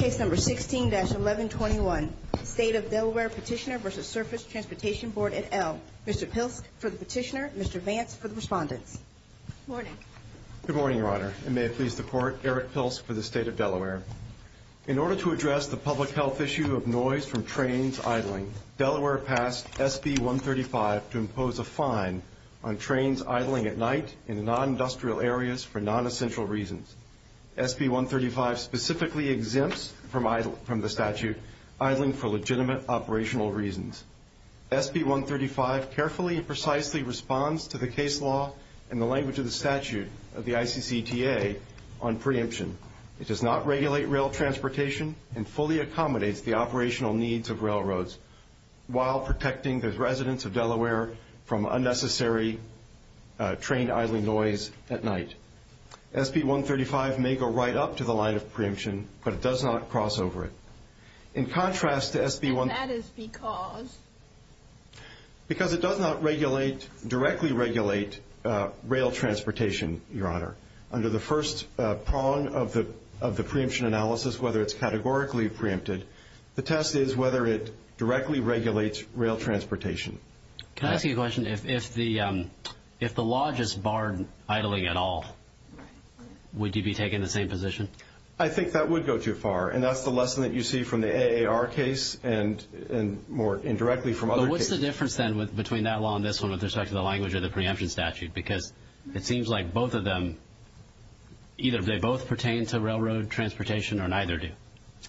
16-1121 State of Delaware Petitioner v. Surface Transportation Board, et al. Mr. Pilsk for the petitioner, Mr. Vance for the respondents. Good morning, Your Honor, and may it please the Court, Eric Pilsk for the State of Delaware. In order to address the public health issue of noise from trains idling, Delaware passed SB 135 to impose a fine on trains idling at night in non-industrial areas for non-essential reasons. SB 135 specifically exempts from the statute idling for legitimate operational reasons. SB 135 carefully and precisely responds to the case law and the language of the statute of the ICCTA on preemption. It does not regulate rail transportation and fully accommodates the operational needs of railroads while protecting the residents of Delaware from unnecessary train idling noise at night. SB 135 may go right up to the line of preemption, but it does not cross over it. In contrast to SB 1- And that is because? Because it does not directly regulate rail transportation, Your Honor. Under the first prong of the preemption analysis, whether it's categorically preempted, the test is whether it directly regulates rail transportation. Can I ask you a question? If the law just barred idling at all, would you be taking the same position? I think that would go too far, and that's the lesson that you see from the AAR case and more indirectly from other cases. But what's the difference then between that law and this one with respect to the language of the preemption statute? Because it seems like both of them, either they both pertain to railroad transportation or neither do.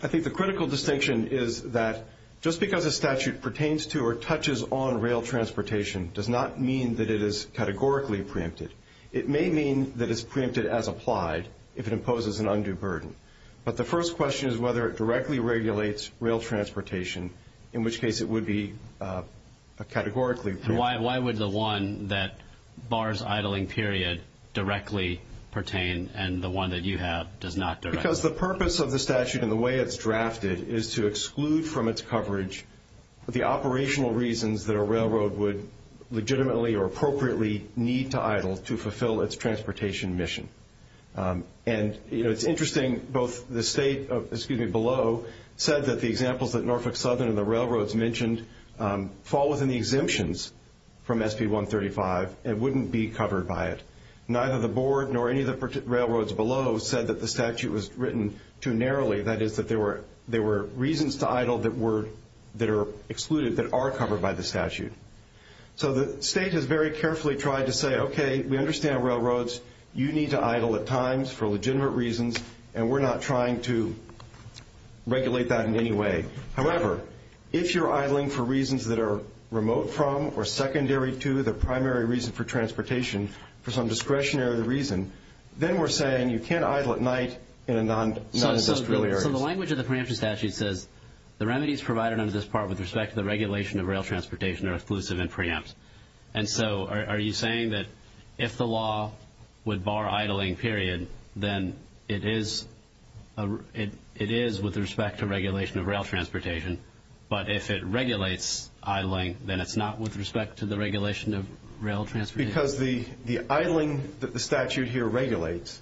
I think the critical distinction is that just because a statute pertains to or touches on rail transportation does not mean that it is categorically preempted. It may mean that it's preempted as applied if it imposes an undue burden. But the first question is whether it directly regulates rail transportation, in which case it would be categorically preempted. Why would the one that bars idling period directly pertain and the one that you have does not directly? Because the purpose of the statute and the way it's drafted is to exclude from its coverage the operational reasons that a railroad would legitimately or appropriately need to idle to fulfill its transportation mission. And it's interesting, both the state below said that the examples that Norfolk Southern and the railroads mentioned fall within the exemptions from SB 135 and wouldn't be covered by it. Neither the board nor any of the railroads below said that the statute was written too narrowly, that is that there were reasons to idle that are excluded, that are covered by the statute. So the state has very carefully tried to say, okay, we understand railroads. You need to idle at times for legitimate reasons, and we're not trying to regulate that in any way. However, if you're idling for reasons that are remote from or secondary to the primary reason for transportation, for some discretionary reason, then we're saying you can't idle at night in a non-industrial area. So the language of the preemption statute says the remedies provided under this part with respect to the regulation of rail transportation are exclusive and preempt. And so are you saying that if the law would bar idling period, then it is with respect to regulation of rail transportation, but if it regulates idling, then it's not with respect to the regulation of rail transportation? Because the idling that the statute here regulates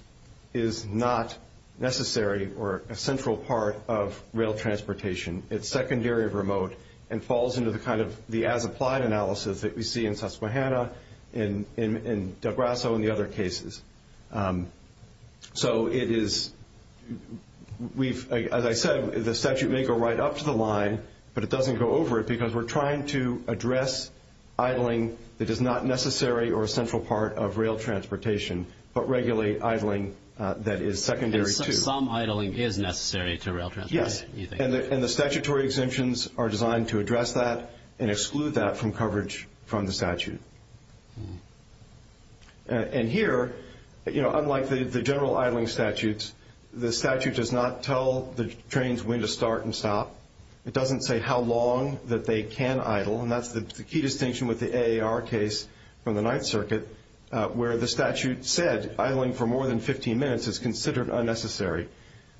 is not necessary or a central part of rail transportation. It's secondary or remote and falls into the kind of the as-applied analysis that we see in Susquehanna, in Del Grasso, and the other cases. So it is, as I said, the statute may go right up to the line, but it doesn't go over it because we're trying to address idling that is not necessary or a central part of rail transportation, but regulate idling that is secondary to. And some idling is necessary to rail transportation? Yes, and the statutory exemptions are designed to address that and exclude that from coverage from the statute. And here, unlike the general idling statutes, the statute does not tell the trains when to start and stop. It doesn't say how long that they can idle, and that's the key distinction with the AAR case from the Ninth Circuit, where the statute said idling for more than 15 minutes is considered unnecessary.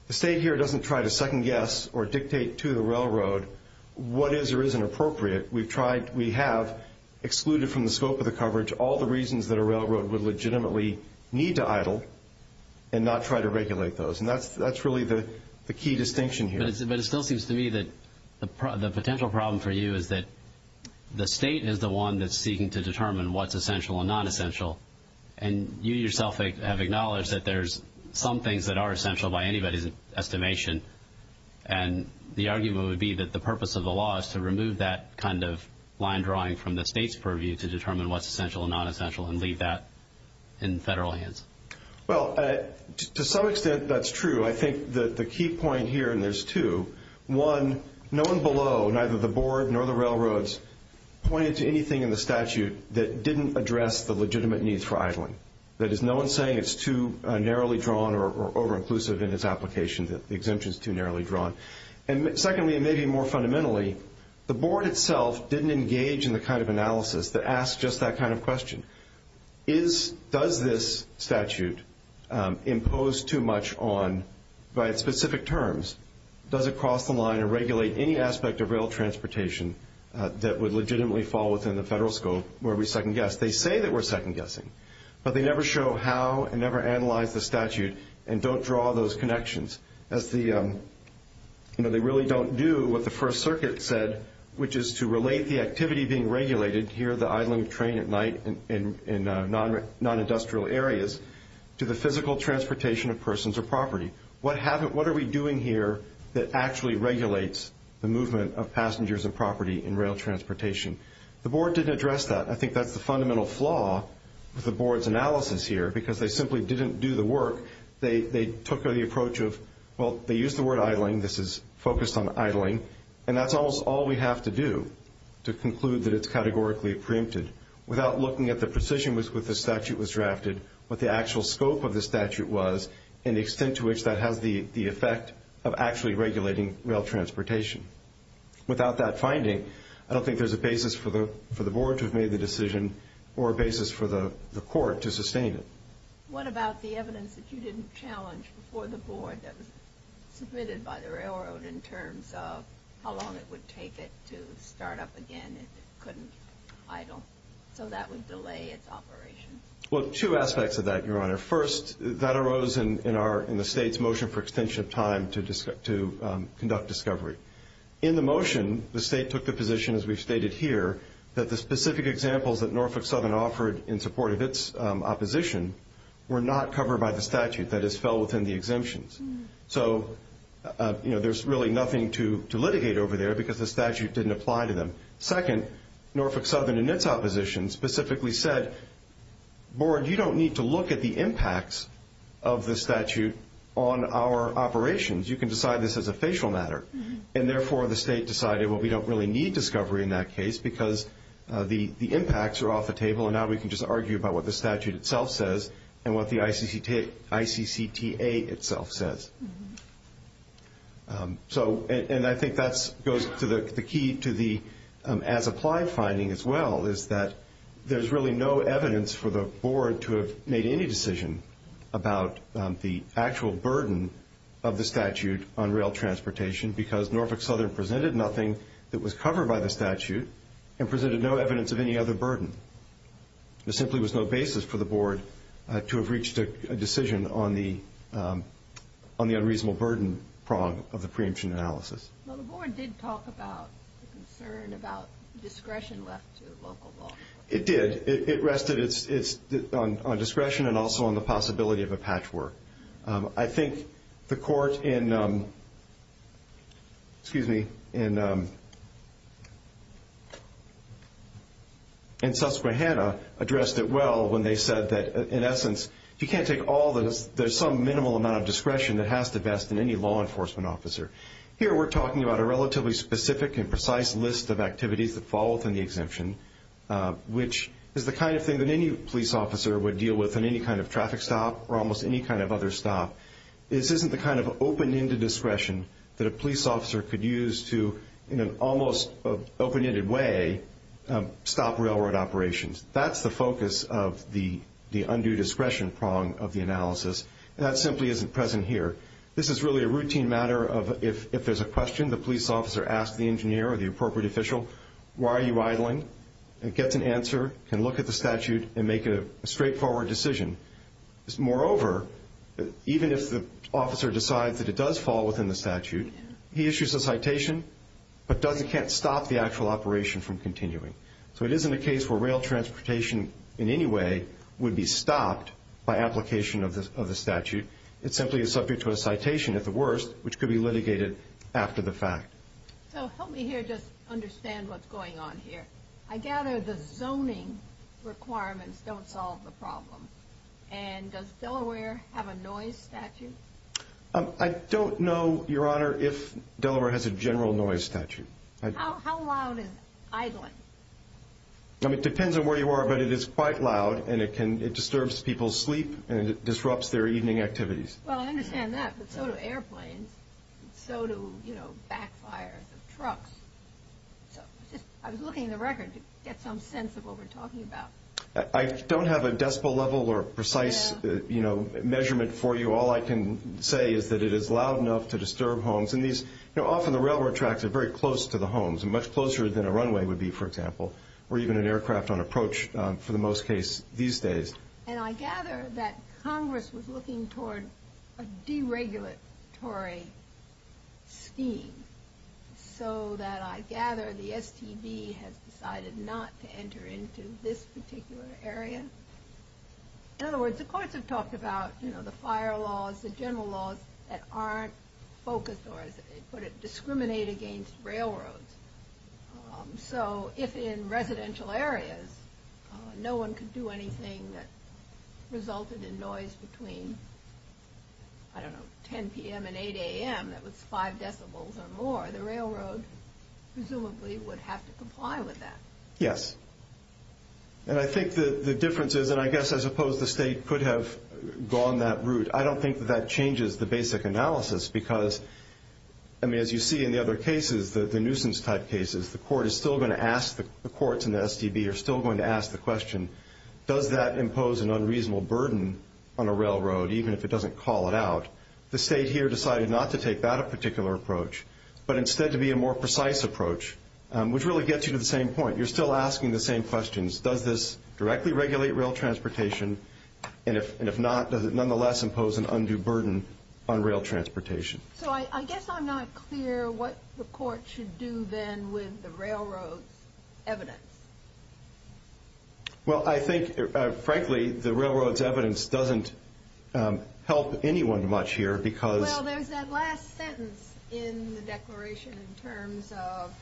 The state here doesn't try to second-guess or dictate to the railroad what is or isn't appropriate. We have excluded from the scope of the coverage all the reasons that a railroad would legitimately need to idle and not try to regulate those, and that's really the key distinction here. But it still seems to me that the potential problem for you is that the state is the one that's seeking to determine what's essential and non-essential, and you yourself have acknowledged that there's some things that are essential by anybody's estimation, and the argument would be that the purpose of the law is to remove that kind of line drawing from the state's purview to determine what's essential and non-essential and leave that in federal hands. Well, to some extent, that's true. I think that the key point here, and there's two, one, no one below, neither the Board nor the railroads, pointed to anything in the statute that didn't address the legitimate needs for idling. That is, no one is saying it's too narrowly drawn or over-inclusive in its application, that the exemption is too narrowly drawn. And secondly, and maybe more fundamentally, the Board itself didn't engage in the kind of analysis that asks just that kind of question. Does this statute impose too much on, by its specific terms, does it cross the line and regulate any aspect of rail transportation that would legitimately fall within the federal scope where we second-guess? They say that we're second-guessing, but they never show how and never analyze the statute and don't draw those connections. They really don't do what the First Circuit said, which is to relate the activity being regulated, here the idling of train at night in non-industrial areas, to the physical transportation of persons or property. What are we doing here that actually regulates the movement of passengers and property in rail transportation? The Board didn't address that. I think that's the fundamental flaw with the Board's analysis here, because they simply didn't do the work. They took the approach of, well, they used the word idling, this is focused on idling, and that's almost all we have to do to conclude that it's categorically preempted, without looking at the precision with which the statute was drafted, what the actual scope of the statute was, and the extent to which that has the effect of actually regulating rail transportation. Without that finding, I don't think there's a basis for the Board to have made the decision or a basis for the Court to sustain it. What about the evidence that you didn't challenge before the Board that was submitted by the railroad in terms of how long it would take it to start up again if it couldn't idle, so that would delay its operation? Well, two aspects of that, Your Honor. First, that arose in the State's motion for extension of time to conduct discovery. In the motion, the State took the position, as we've stated here, that the specific examples that Norfolk Southern offered in support of its opposition were not covered by the statute that has fell within the exemptions. So there's really nothing to litigate over there because the statute didn't apply to them. Second, Norfolk Southern and its opposition specifically said, Board, you don't need to look at the impacts of the statute on our operations. You can decide this as a facial matter. And therefore, the State decided, well, we don't really need discovery in that case because the impacts are off the table and now we can just argue about what the statute itself says and what the ICCTA itself says. And I think that goes to the key to the as-applied finding as well, is that there's really no evidence for the Board to have made any decision about the actual burden of the statute on rail transportation because Norfolk Southern presented nothing that was covered by the statute and presented no evidence of any other burden. There simply was no basis for the Board to have reached a decision on the unreasonable burden prong of the preemption analysis. Well, the Board did talk about the concern about discretion left to local law. It did. It rested on discretion and also on the possibility of a patchwork. I think the court in Susquehanna addressed it well when they said that, in essence, you can't take all this. There's some minimal amount of discretion that has to vest in any law enforcement officer. Here we're talking about a relatively specific and precise list of activities that fall within the exemption, which is the kind of thing that any police officer would deal with in any kind of traffic stop or almost any kind of other stop. This isn't the kind of open-ended discretion that a police officer could use to, in an almost open-ended way, stop railroad operations. That's the focus of the undue discretion prong of the analysis. That simply isn't present here. This is really a routine matter of if there's a question, the police officer asks the engineer or the appropriate official, why are you idling? It gets an answer, can look at the statute, and make a straightforward decision. Moreover, even if the officer decides that it does fall within the statute, he issues a citation but can't stop the actual operation from continuing. So it isn't a case where rail transportation in any way would be stopped by application of the statute. It simply is subject to a citation, at the worst, which could be litigated after the fact. So help me here just understand what's going on here. I gather the zoning requirements don't solve the problem, and does Delaware have a noise statute? I don't know, Your Honor, if Delaware has a general noise statute. How loud is idling? It depends on where you are, but it is quite loud, and it disturbs people's sleep, and it disrupts their evening activities. Well, I understand that, but so do airplanes, and so do backfires of trucks. I was looking at the record to get some sense of what we're talking about. I don't have a decibel level or precise measurement for you. All I can say is that it is loud enough to disturb homes. Often the railroad tracks are very close to the homes, much closer than a runway would be, for example, or even an aircraft on approach for the most case these days. And I gather that Congress was looking toward a deregulatory scheme, so that I gather the STD has decided not to enter into this particular area. In other words, the courts have talked about the fire laws, the general laws that aren't focused, or as they put it, discriminate against railroads. So if in residential areas no one could do anything that resulted in noise between, I don't know, 10 p.m. and 8 a.m. that was five decibels or more, the railroad presumably would have to comply with that. Yes. And I think the difference is, and I guess I suppose the state could have gone that route. I don't think that that changes the basic analysis, because, I mean, as you see in the other cases, the nuisance-type cases, the courts and the STD are still going to ask the question, does that impose an unreasonable burden on a railroad, even if it doesn't call it out? The state here decided not to take that particular approach, but instead to be a more precise approach, which really gets you to the same point. You're still asking the same questions. Does this directly regulate rail transportation, and if not, does it nonetheless impose an undue burden on rail transportation? So I guess I'm not clear what the court should do then with the railroad's evidence. Well, I think, frankly, the railroad's evidence doesn't help anyone much here, because – Well, there's that last sentence in the declaration in terms of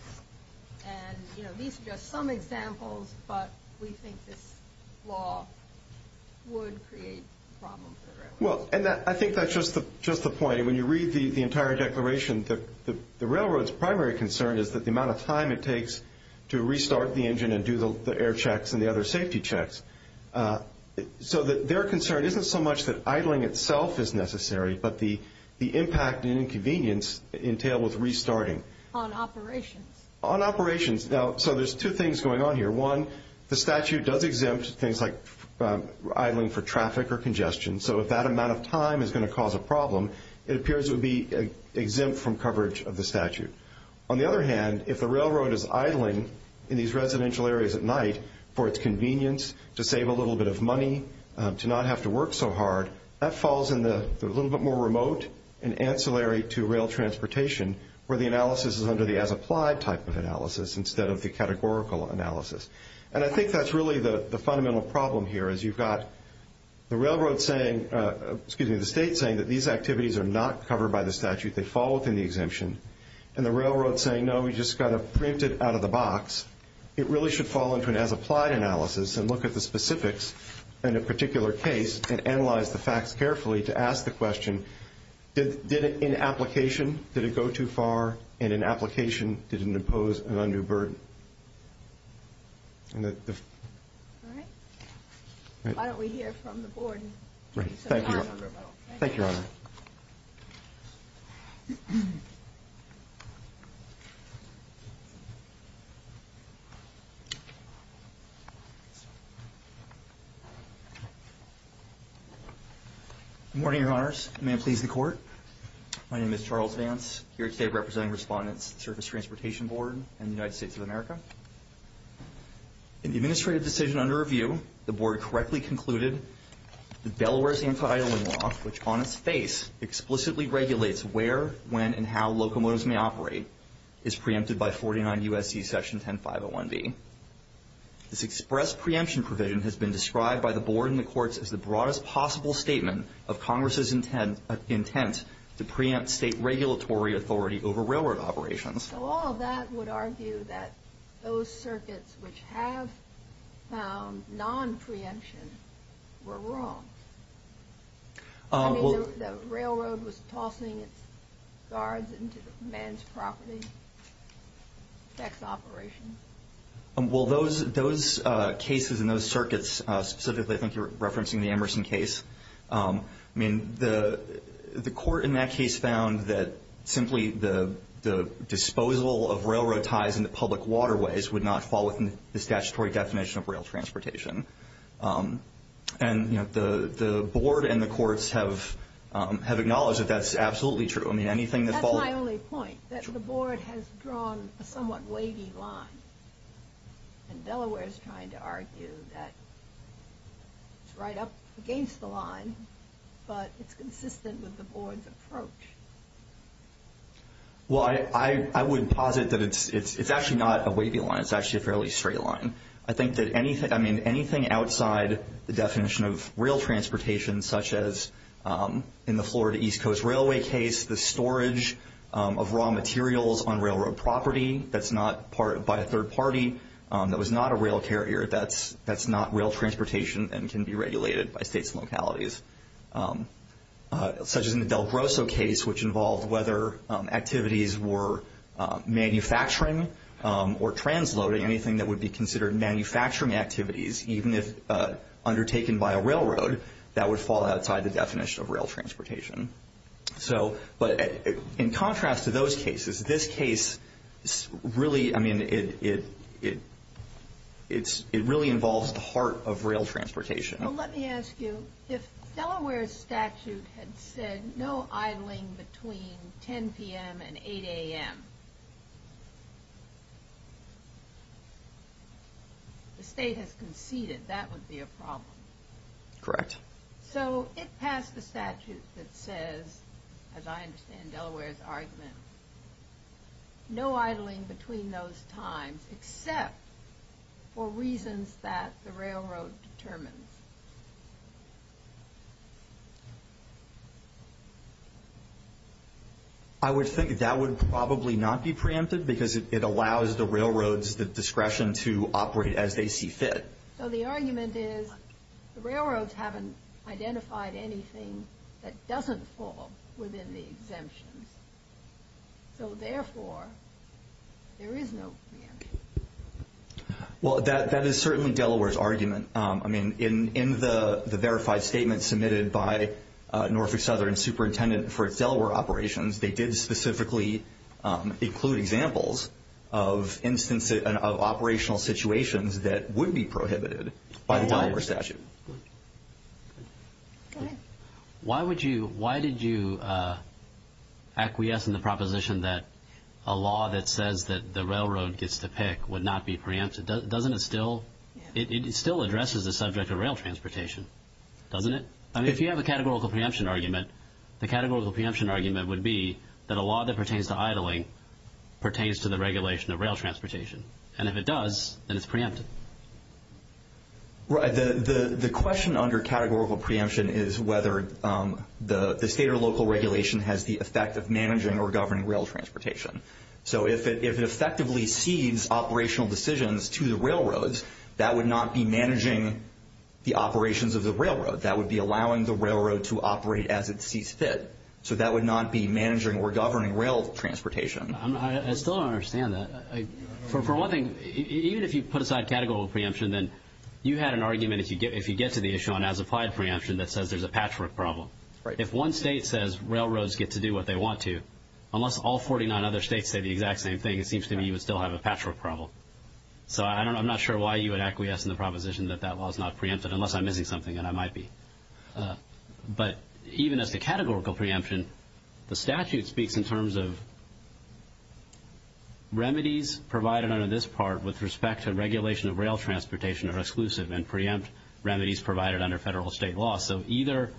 – And, you know, these are just some examples, but we think this law would create a problem for the railroad. Well, and I think that's just the point. When you read the entire declaration, the railroad's primary concern is that the amount of time it takes to restart the engine and do the air checks and the other safety checks. So their concern isn't so much that idling itself is necessary, but the impact and inconvenience entailed with restarting. On operations. On operations. Now, so there's two things going on here. One, the statute does exempt things like idling for traffic or congestion. So if that amount of time is going to cause a problem, it appears it would be exempt from coverage of the statute. On the other hand, if the railroad is idling in these residential areas at night for its convenience, to save a little bit of money, to not have to work so hard, that falls in the little bit more remote and ancillary to rail transportation where the analysis is under the as-applied type of analysis instead of the categorical analysis. And I think that's really the fundamental problem here is you've got the railroad saying, excuse me, the state saying that these activities are not covered by the statute. They fall within the exemption. And the railroad saying, no, we just got to print it out of the box. It really should fall into an as-applied analysis and look at the specifics in a particular case and analyze the facts carefully to ask the question, did it in application, did it go too far? And in application, did it impose an undue burden? All right. Why don't we hear from the board? Thank you. Thank you, Your Honor. Good morning, Your Honors. May it please the Court. My name is Charles Vance. Here today I'm representing respondents to the Surface Transportation Board and the United States of America. In the administrative decision under review, the board correctly concluded that Delaware's anti-idling law, which on its face explicitly regulates where, when, and how locomotives may operate, is preempted by 49 U.S.C. Section 10501B. This express preemption provision has been described by the board and the courts as the broadest possible statement of Congress's intent to preempt state regulatory authority over railroad operations. So all of that would argue that those circuits which have found non-preemption were wrong. I mean, the railroad was tossing its guards into man's property, sex operations. Well, those cases and those circuits, specifically I think you're referencing the Emerson case, I mean, the court in that case found that simply the disposal of railroad ties into public waterways would not fall within the statutory definition of rail transportation. And, you know, the board and the courts have acknowledged that that's absolutely true. That's my only point, that the board has drawn a somewhat wavy line. And Delaware is trying to argue that it's right up against the line, but it's consistent with the board's approach. Well, I would posit that it's actually not a wavy line. It's actually a fairly straight line. I think that anything outside the definition of rail transportation, such as in the Florida East Coast Railway case, the storage of raw materials on railroad property that's not by a third party, that was not a rail carrier, that's not rail transportation and can be regulated by states and localities. Such as in the Del Grosso case, which involved whether activities were manufacturing or transloading, anything that would be considered manufacturing activities, even if undertaken by a railroad, that would fall outside the definition of rail transportation. But in contrast to those cases, this case really, I mean, it really involves the heart of rail transportation. Well, let me ask you, if Delaware's statute had said no idling between 10 p.m. and 8 a.m., the state has conceded, that would be a problem. Correct. So it passed the statute that says, as I understand Delaware's argument, no idling between those times, except for reasons that the railroad determines. I would think that that would probably not be preempted because it allows the railroads the discretion to operate as they see fit. So the argument is, the railroads haven't identified anything that doesn't fall within the exemptions. So therefore, there is no preemption. Well, that is certainly Delaware's argument. I mean, in the verified statement submitted by Norfolk Southern's superintendent for its Delaware operations, they did specifically include examples of operational situations that would be prohibited by the Delaware statute. Go ahead. Why did you acquiesce in the proposition that a law that says that the railroad gets to pick would not be preempted? Doesn't it still address the subject of rail transportation? Doesn't it? I mean, if you have a categorical preemption argument, the categorical preemption argument would be that a law that pertains to idling pertains to the regulation of rail transportation. And if it does, then it's preempted. Right. The question under categorical preemption is whether the state or local regulation has the effect of managing or governing rail transportation. So if it effectively cedes operational decisions to the railroads, that would not be managing the operations of the railroad. That would be allowing the railroad to operate as it sees fit. So that would not be managing or governing rail transportation. I still don't understand that. For one thing, even if you put aside categorical preemption, then you had an argument if you get to the issue on as-applied preemption that says there's a patchwork problem. If one state says railroads get to do what they want to, unless all 49 other states say the exact same thing, it seems to me you would still have a patchwork problem. So I'm not sure why you would acquiesce in the proposition that that law is not preempted, unless I'm missing something, and I might be. But even as to categorical preemption, the statute speaks in terms of remedies provided under this part with respect to regulation of rail transportation are exclusive and preempt remedies provided under federal or state law. So either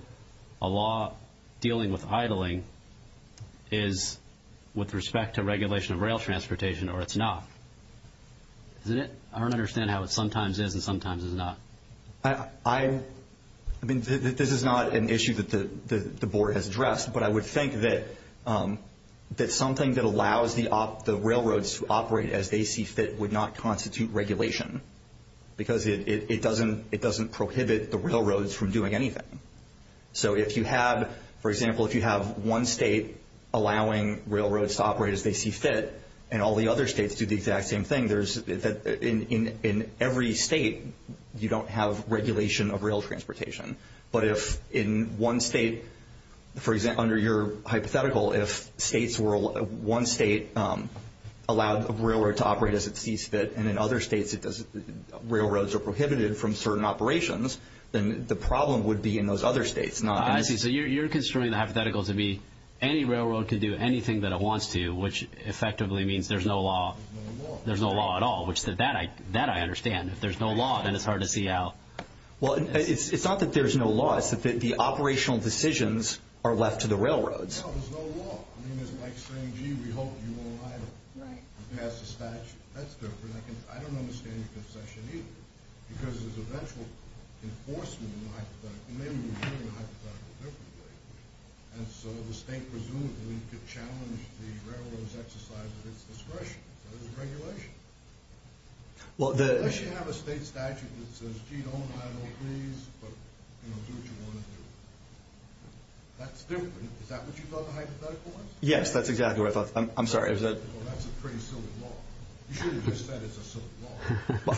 a law dealing with idling is with respect to regulation of rail transportation or it's not. I don't understand how it sometimes is and sometimes is not. I mean, this is not an issue that the Board has addressed, but I would think that something that allows the railroads to operate as they see fit would not constitute regulation because it doesn't prohibit the railroads from doing anything. So if you have, for example, if you have one state allowing railroads to operate as they see fit and all the other states do the exact same thing, in every state you don't have regulation of rail transportation. But if in one state, for example, under your hypothetical, if one state allowed a railroad to operate as it sees fit and in other states railroads are prohibited from certain operations, then the problem would be in those other states. I see. So you're construing the hypothetical to be any railroad can do anything that it wants to, which effectively means there's no law. There's no law. There's no law at all, which that I understand. If there's no law, then it's hard to see how. Well, it's not that there's no law. It's that the operational decisions are left to the railroads. No, there's no law. I mean, it's like saying, gee, we hope you won't idle. Right. You pass a statute. That's different. I don't understand your conception either because there's eventual enforcement in the hypothetical. Maybe we're doing the hypothetical differently. And so the state presumably could challenge the railroad's exercise of its discretion. So there's a regulation. Unless you have a state statute that says, gee, don't idle, please, but do what you want to do. That's different. Is that what you thought the hypothetical was? Yes, that's exactly what I thought. I'm sorry. Well, that's a pretty silly law. You should have just said it's a silly law.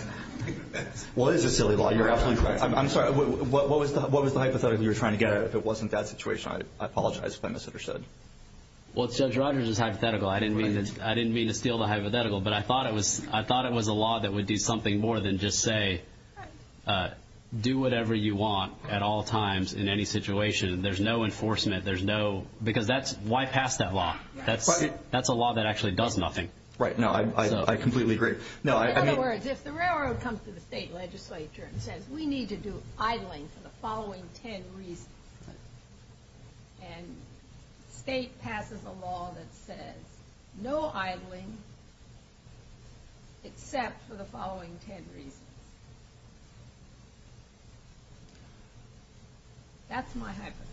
Well, it is a silly law. You're absolutely right. I'm sorry. What was the hypothetical you were trying to get at? If it wasn't that situation, I apologize if I misunderstood. Well, Judge Rogers is hypothetical. I didn't mean to steal the hypothetical, but I thought it was a law that would do something more than just say, do whatever you want at all times in any situation. There's no enforcement. Because why pass that law? That's a law that actually does nothing. Right. No, I completely agree. In other words, if the railroad comes to the state legislature and says, we need to do idling for the following ten reasons, and state passes a law that says no idling except for the following ten reasons, that's my hypothetical.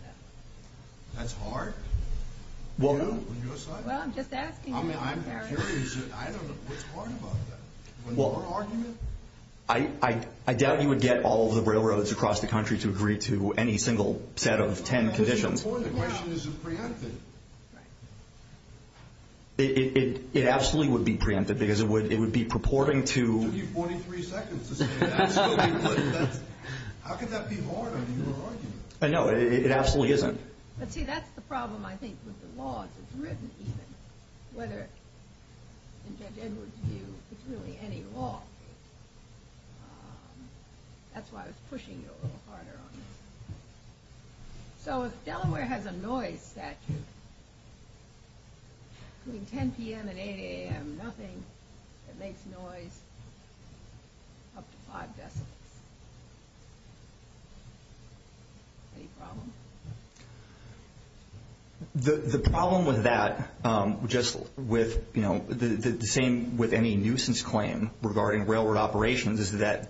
That's hard. Well, I'm just asking you. I'm curious. I don't know. What's hard about that? Well, I doubt you would get all of the railroads across the country to agree to any single set of ten conditions. The question isn't preempted. Right. It absolutely would be preempted because it would be purporting to you. It took you 43 seconds to say that. How could that be hard under your argument? No, it absolutely isn't. But, see, that's the problem, I think, with the laws. It's written, even, whether in Judge Edwards' view it's really any law. That's why I was pushing you a little harder on this. So if Delaware has a noise statute, between 10 p.m. and 8 a.m., nothing that makes noise up to five decibels. Any problem? The problem with that, just with, you know, the same with any nuisance claim regarding railroad operations, is that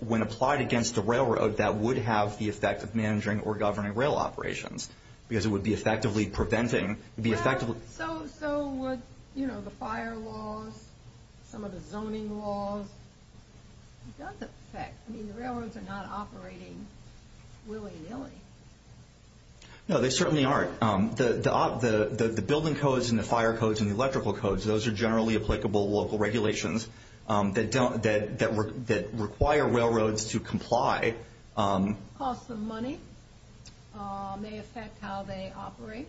when applied against a railroad, that would have the effect of managing or governing rail operations because it would be effectively preventing. So would, you know, the fire laws, some of the zoning laws? It does affect. I mean, the railroads are not operating willy-nilly. No, they certainly aren't. The building codes and the fire codes and the electrical codes, those are generally applicable local regulations that require railroads to comply. Costs of money may affect how they operate.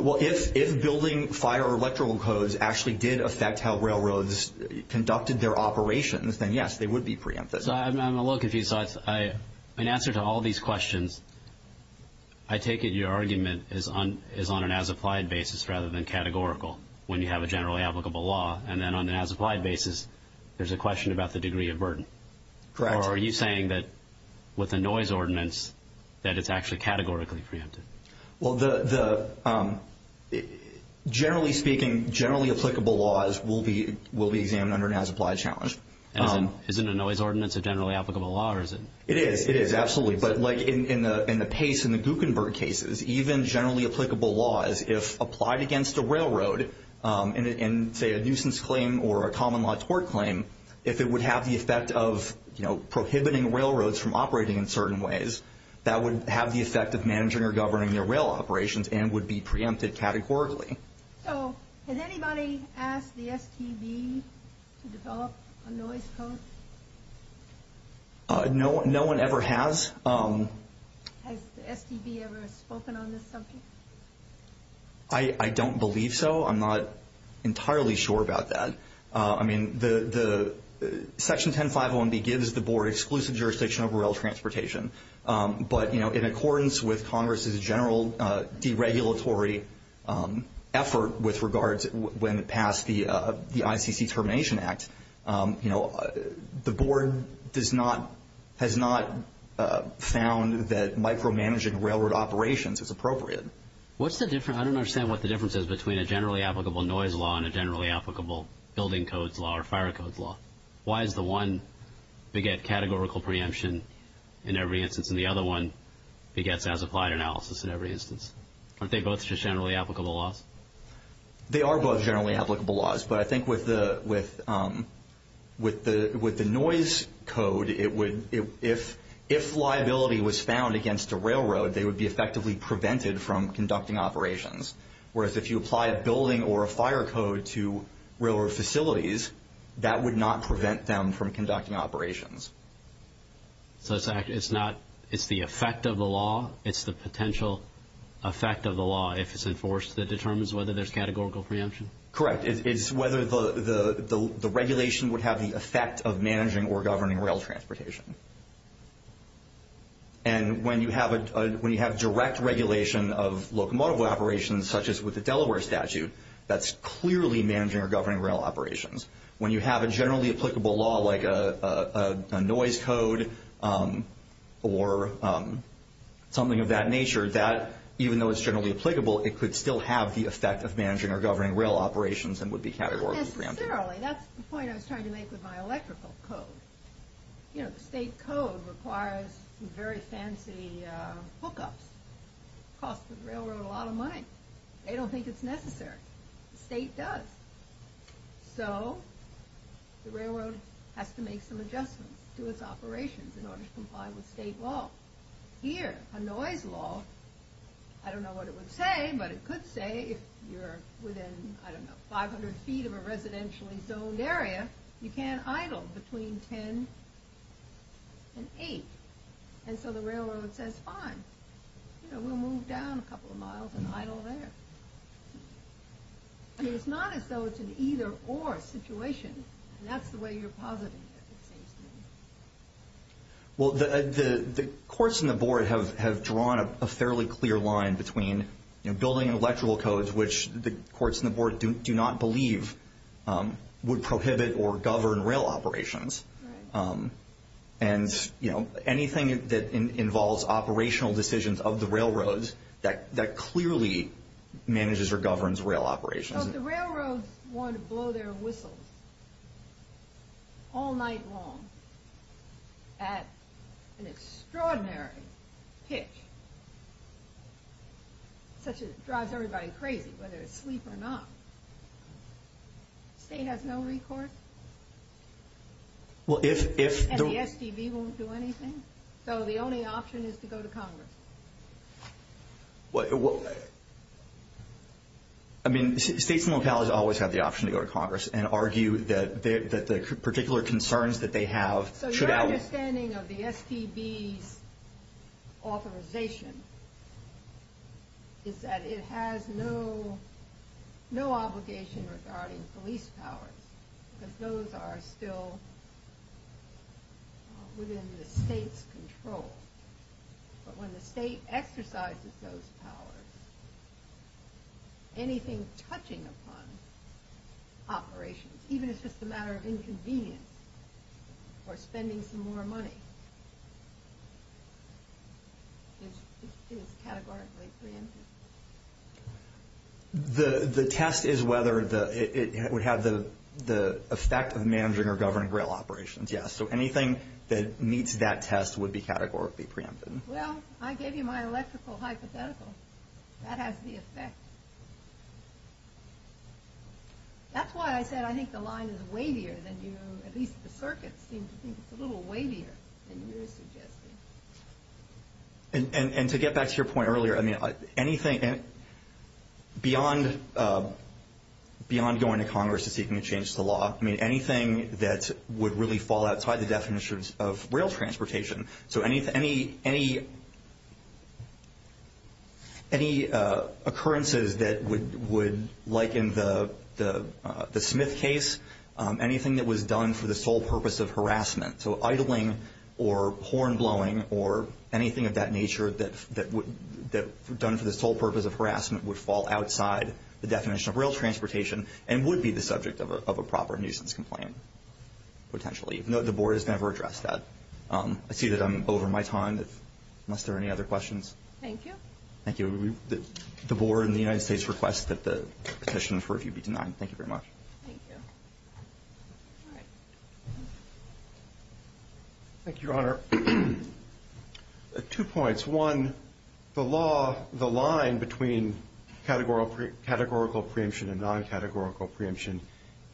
Well, if building, fire, or electrical codes actually did affect how railroads conducted their operations, then, yes, they would be preemphasized. I'm a little confused. In answer to all these questions, I take it your argument is on an as-applied basis rather than categorical when you have a generally applicable law, and then on an as-applied basis, there's a question about the degree of burden. Correct. Or are you saying that with a noise ordinance that it's actually categorically preempted? Well, generally speaking, generally applicable laws will be examined under an as-applied challenge. Isn't a noise ordinance a generally applicable law, or is it? It is. It is, absolutely. But, like, in the pace in the Guckenberg cases, even generally applicable laws, if applied against a railroad, in, say, a nuisance claim or a common law tort claim, if it would have the effect of, you know, prohibiting railroads from operating in certain ways, that would have the effect of managing or governing their rail operations and would be preempted categorically. So has anybody asked the STB to develop a noise code? No one ever has. Has the STB ever spoken on this subject? I don't believe so. I'm not entirely sure about that. I mean, Section 10501B gives the Board exclusive jurisdiction over rail transportation. But, you know, in accordance with Congress's general deregulatory effort with regards when it passed the ICC Termination Act, you know, the Board has not found that micromanaging railroad operations is appropriate. I don't understand what the difference is between a generally applicable noise law and a generally applicable building codes law or fire codes law. Why does the one beget categorical preemption in every instance and the other one begets as-applied analysis in every instance? Aren't they both just generally applicable laws? They are both generally applicable laws. But I think with the noise code, if liability was found against a railroad, they would be effectively prevented from conducting operations, whereas if you apply a building or a fire code to railroad facilities, that would not prevent them from conducting operations. So it's the effect of the law? It's the potential effect of the law if it's enforced that determines whether there's categorical preemption? Correct. It's whether the regulation would have the effect of managing or governing rail transportation. And when you have direct regulation of locomotive operations, such as with the Delaware statute, that's clearly managing or governing rail operations. When you have a generally applicable law like a noise code or something of that nature, that, even though it's generally applicable, it could still have the effect of managing or governing rail operations and would be categorical preemption. That's the point I was trying to make with my electrical code. You know, the state code requires some very fancy hookups. It costs the railroad a lot of money. They don't think it's necessary. The state does. So the railroad has to make some adjustments to its operations in order to comply with state law. Here, a noise law, I don't know what it would say, but it could say if you're within, I don't know, 500 feet of a residentially zoned area, you can't idle between 10 and 8. And so the railroad says, fine, we'll move down a couple of miles and idle there. I mean, it's not as though it's an either-or situation, and that's the way you're positing it, it seems to me. Well, the courts and the board have drawn a fairly clear line between building electrical codes, which the courts and the board do not believe would prohibit or govern rail operations, and anything that involves operational decisions of the railroads that clearly manages or governs rail operations. Well, if the railroads want to blow their whistles all night long at an extraordinary pitch, such as drives everybody crazy, whether it's sleep or not, the state has no recourse, and the SDV won't do anything. So the only option is to go to Congress. Well, I mean, states and localities always have the option to go to Congress and argue that the particular concerns that they have should outweigh... So your understanding of the SDV's authorization is that it has no obligation regarding police powers, because those are still within the state's control. But when the state exercises those powers, anything touching upon operations, even if it's just a matter of inconvenience or spending some more money, is categorically preempted. The test is whether it would have the effect of managing or governing rail operations, yes. So anything that meets that test would be categorically preempted. Well, I gave you my electrical hypothetical. That has the effect. That's why I said I think the line is wavier than you, at least the circuits seem to think it's a little wavier than you're suggesting. And to get back to your point earlier, I mean, anything beyond going to Congress and seeking a change to the law, I mean, anything that would really fall outside the definitions of rail transportation, so any occurrences that would, like in the Smith case, anything that was done for the sole purpose of harassment, so idling or horn blowing or anything of that nature that done for the sole purpose of harassment would fall outside the definition of rail transportation and would be the subject of a proper nuisance complaint, potentially. The Board has never addressed that. I see that I'm over my time, unless there are any other questions. Thank you. Thank you. The Board and the United States request that the petition for review be denied. Thank you very much. Thank you. Thank you, Your Honor. Two points. One, the law, the line between categorical preemption and non-categorical preemption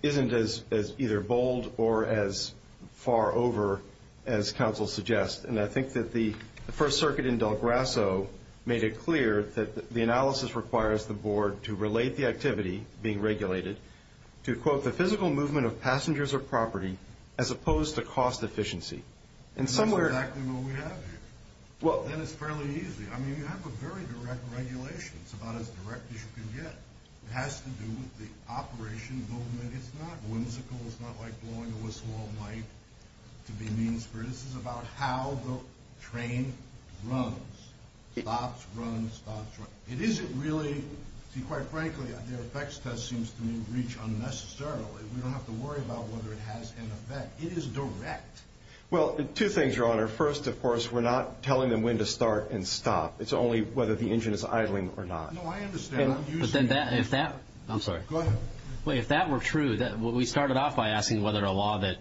isn't as either bold or as far over as counsel suggests, and I think that the First Circuit in Del Grasso made it clear that the analysis requires the Board to relate the activity being regulated to, quote, the physical movement of passengers or property as opposed to cost efficiency. That's exactly what we have here. And it's fairly easy. I mean, you have a very direct regulation. It's about as direct as you can get. It has to do with the operation movement. It's not whimsical. It's not like blowing a whistle all night to be mean-spirited. This is about how the train runs, stops, runs, stops, runs. It isn't really, quite frankly, the effects test seems to me to reach unnecessarily. We don't have to worry about whether it has an effect. It is direct. Well, two things, Your Honor. First, of course, we're not telling them when to start and stop. It's only whether the engine is idling or not. No, I understand. I'm using it. I'm sorry. Go ahead. If that were true, we started off by asking whether a law that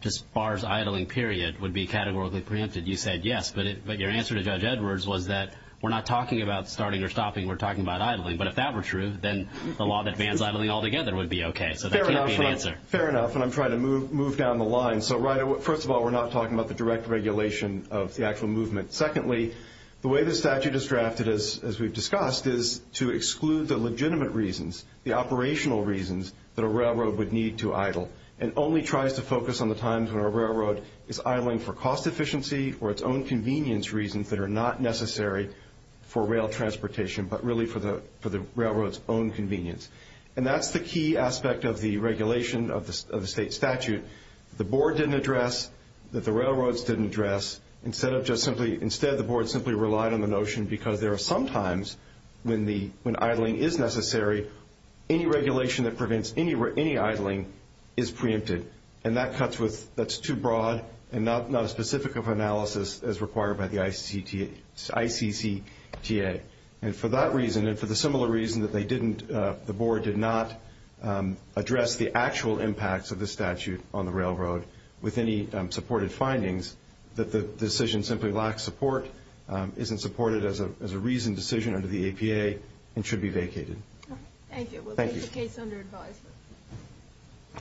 just bars idling, period, would be categorically preempted. You said yes, but your answer to Judge Edwards was that we're not talking about starting or stopping. We're talking about idling. But if that were true, then the law that bans idling altogether would be okay. So that can't be an answer. Fair enough, and I'm trying to move down the line. So first of all, we're not talking about the direct regulation of the actual movement. Secondly, the way the statute is drafted, as we've discussed, is to exclude the legitimate reasons, the operational reasons, that a railroad would need to idle and only tries to focus on the times when a railroad is idling for cost efficiency or its own convenience reasons that are not necessary for rail transportation, but really for the railroad's own convenience. And that's the key aspect of the regulation of the state statute. The board didn't address that the railroads didn't address. Instead, the board simply relied on the notion because there are some times when idling is necessary, any regulation that prevents any idling is preempted. And that's too broad and not as specific of analysis as required by the ICCTA. And for that reason and for the similar reason that they didn't, the board did not address the actual impacts of the statute on the railroad with any supported findings, that the decision simply lacks support, isn't supported as a reasoned decision under the APA, and should be vacated. Thank you. We'll take the case under advisement.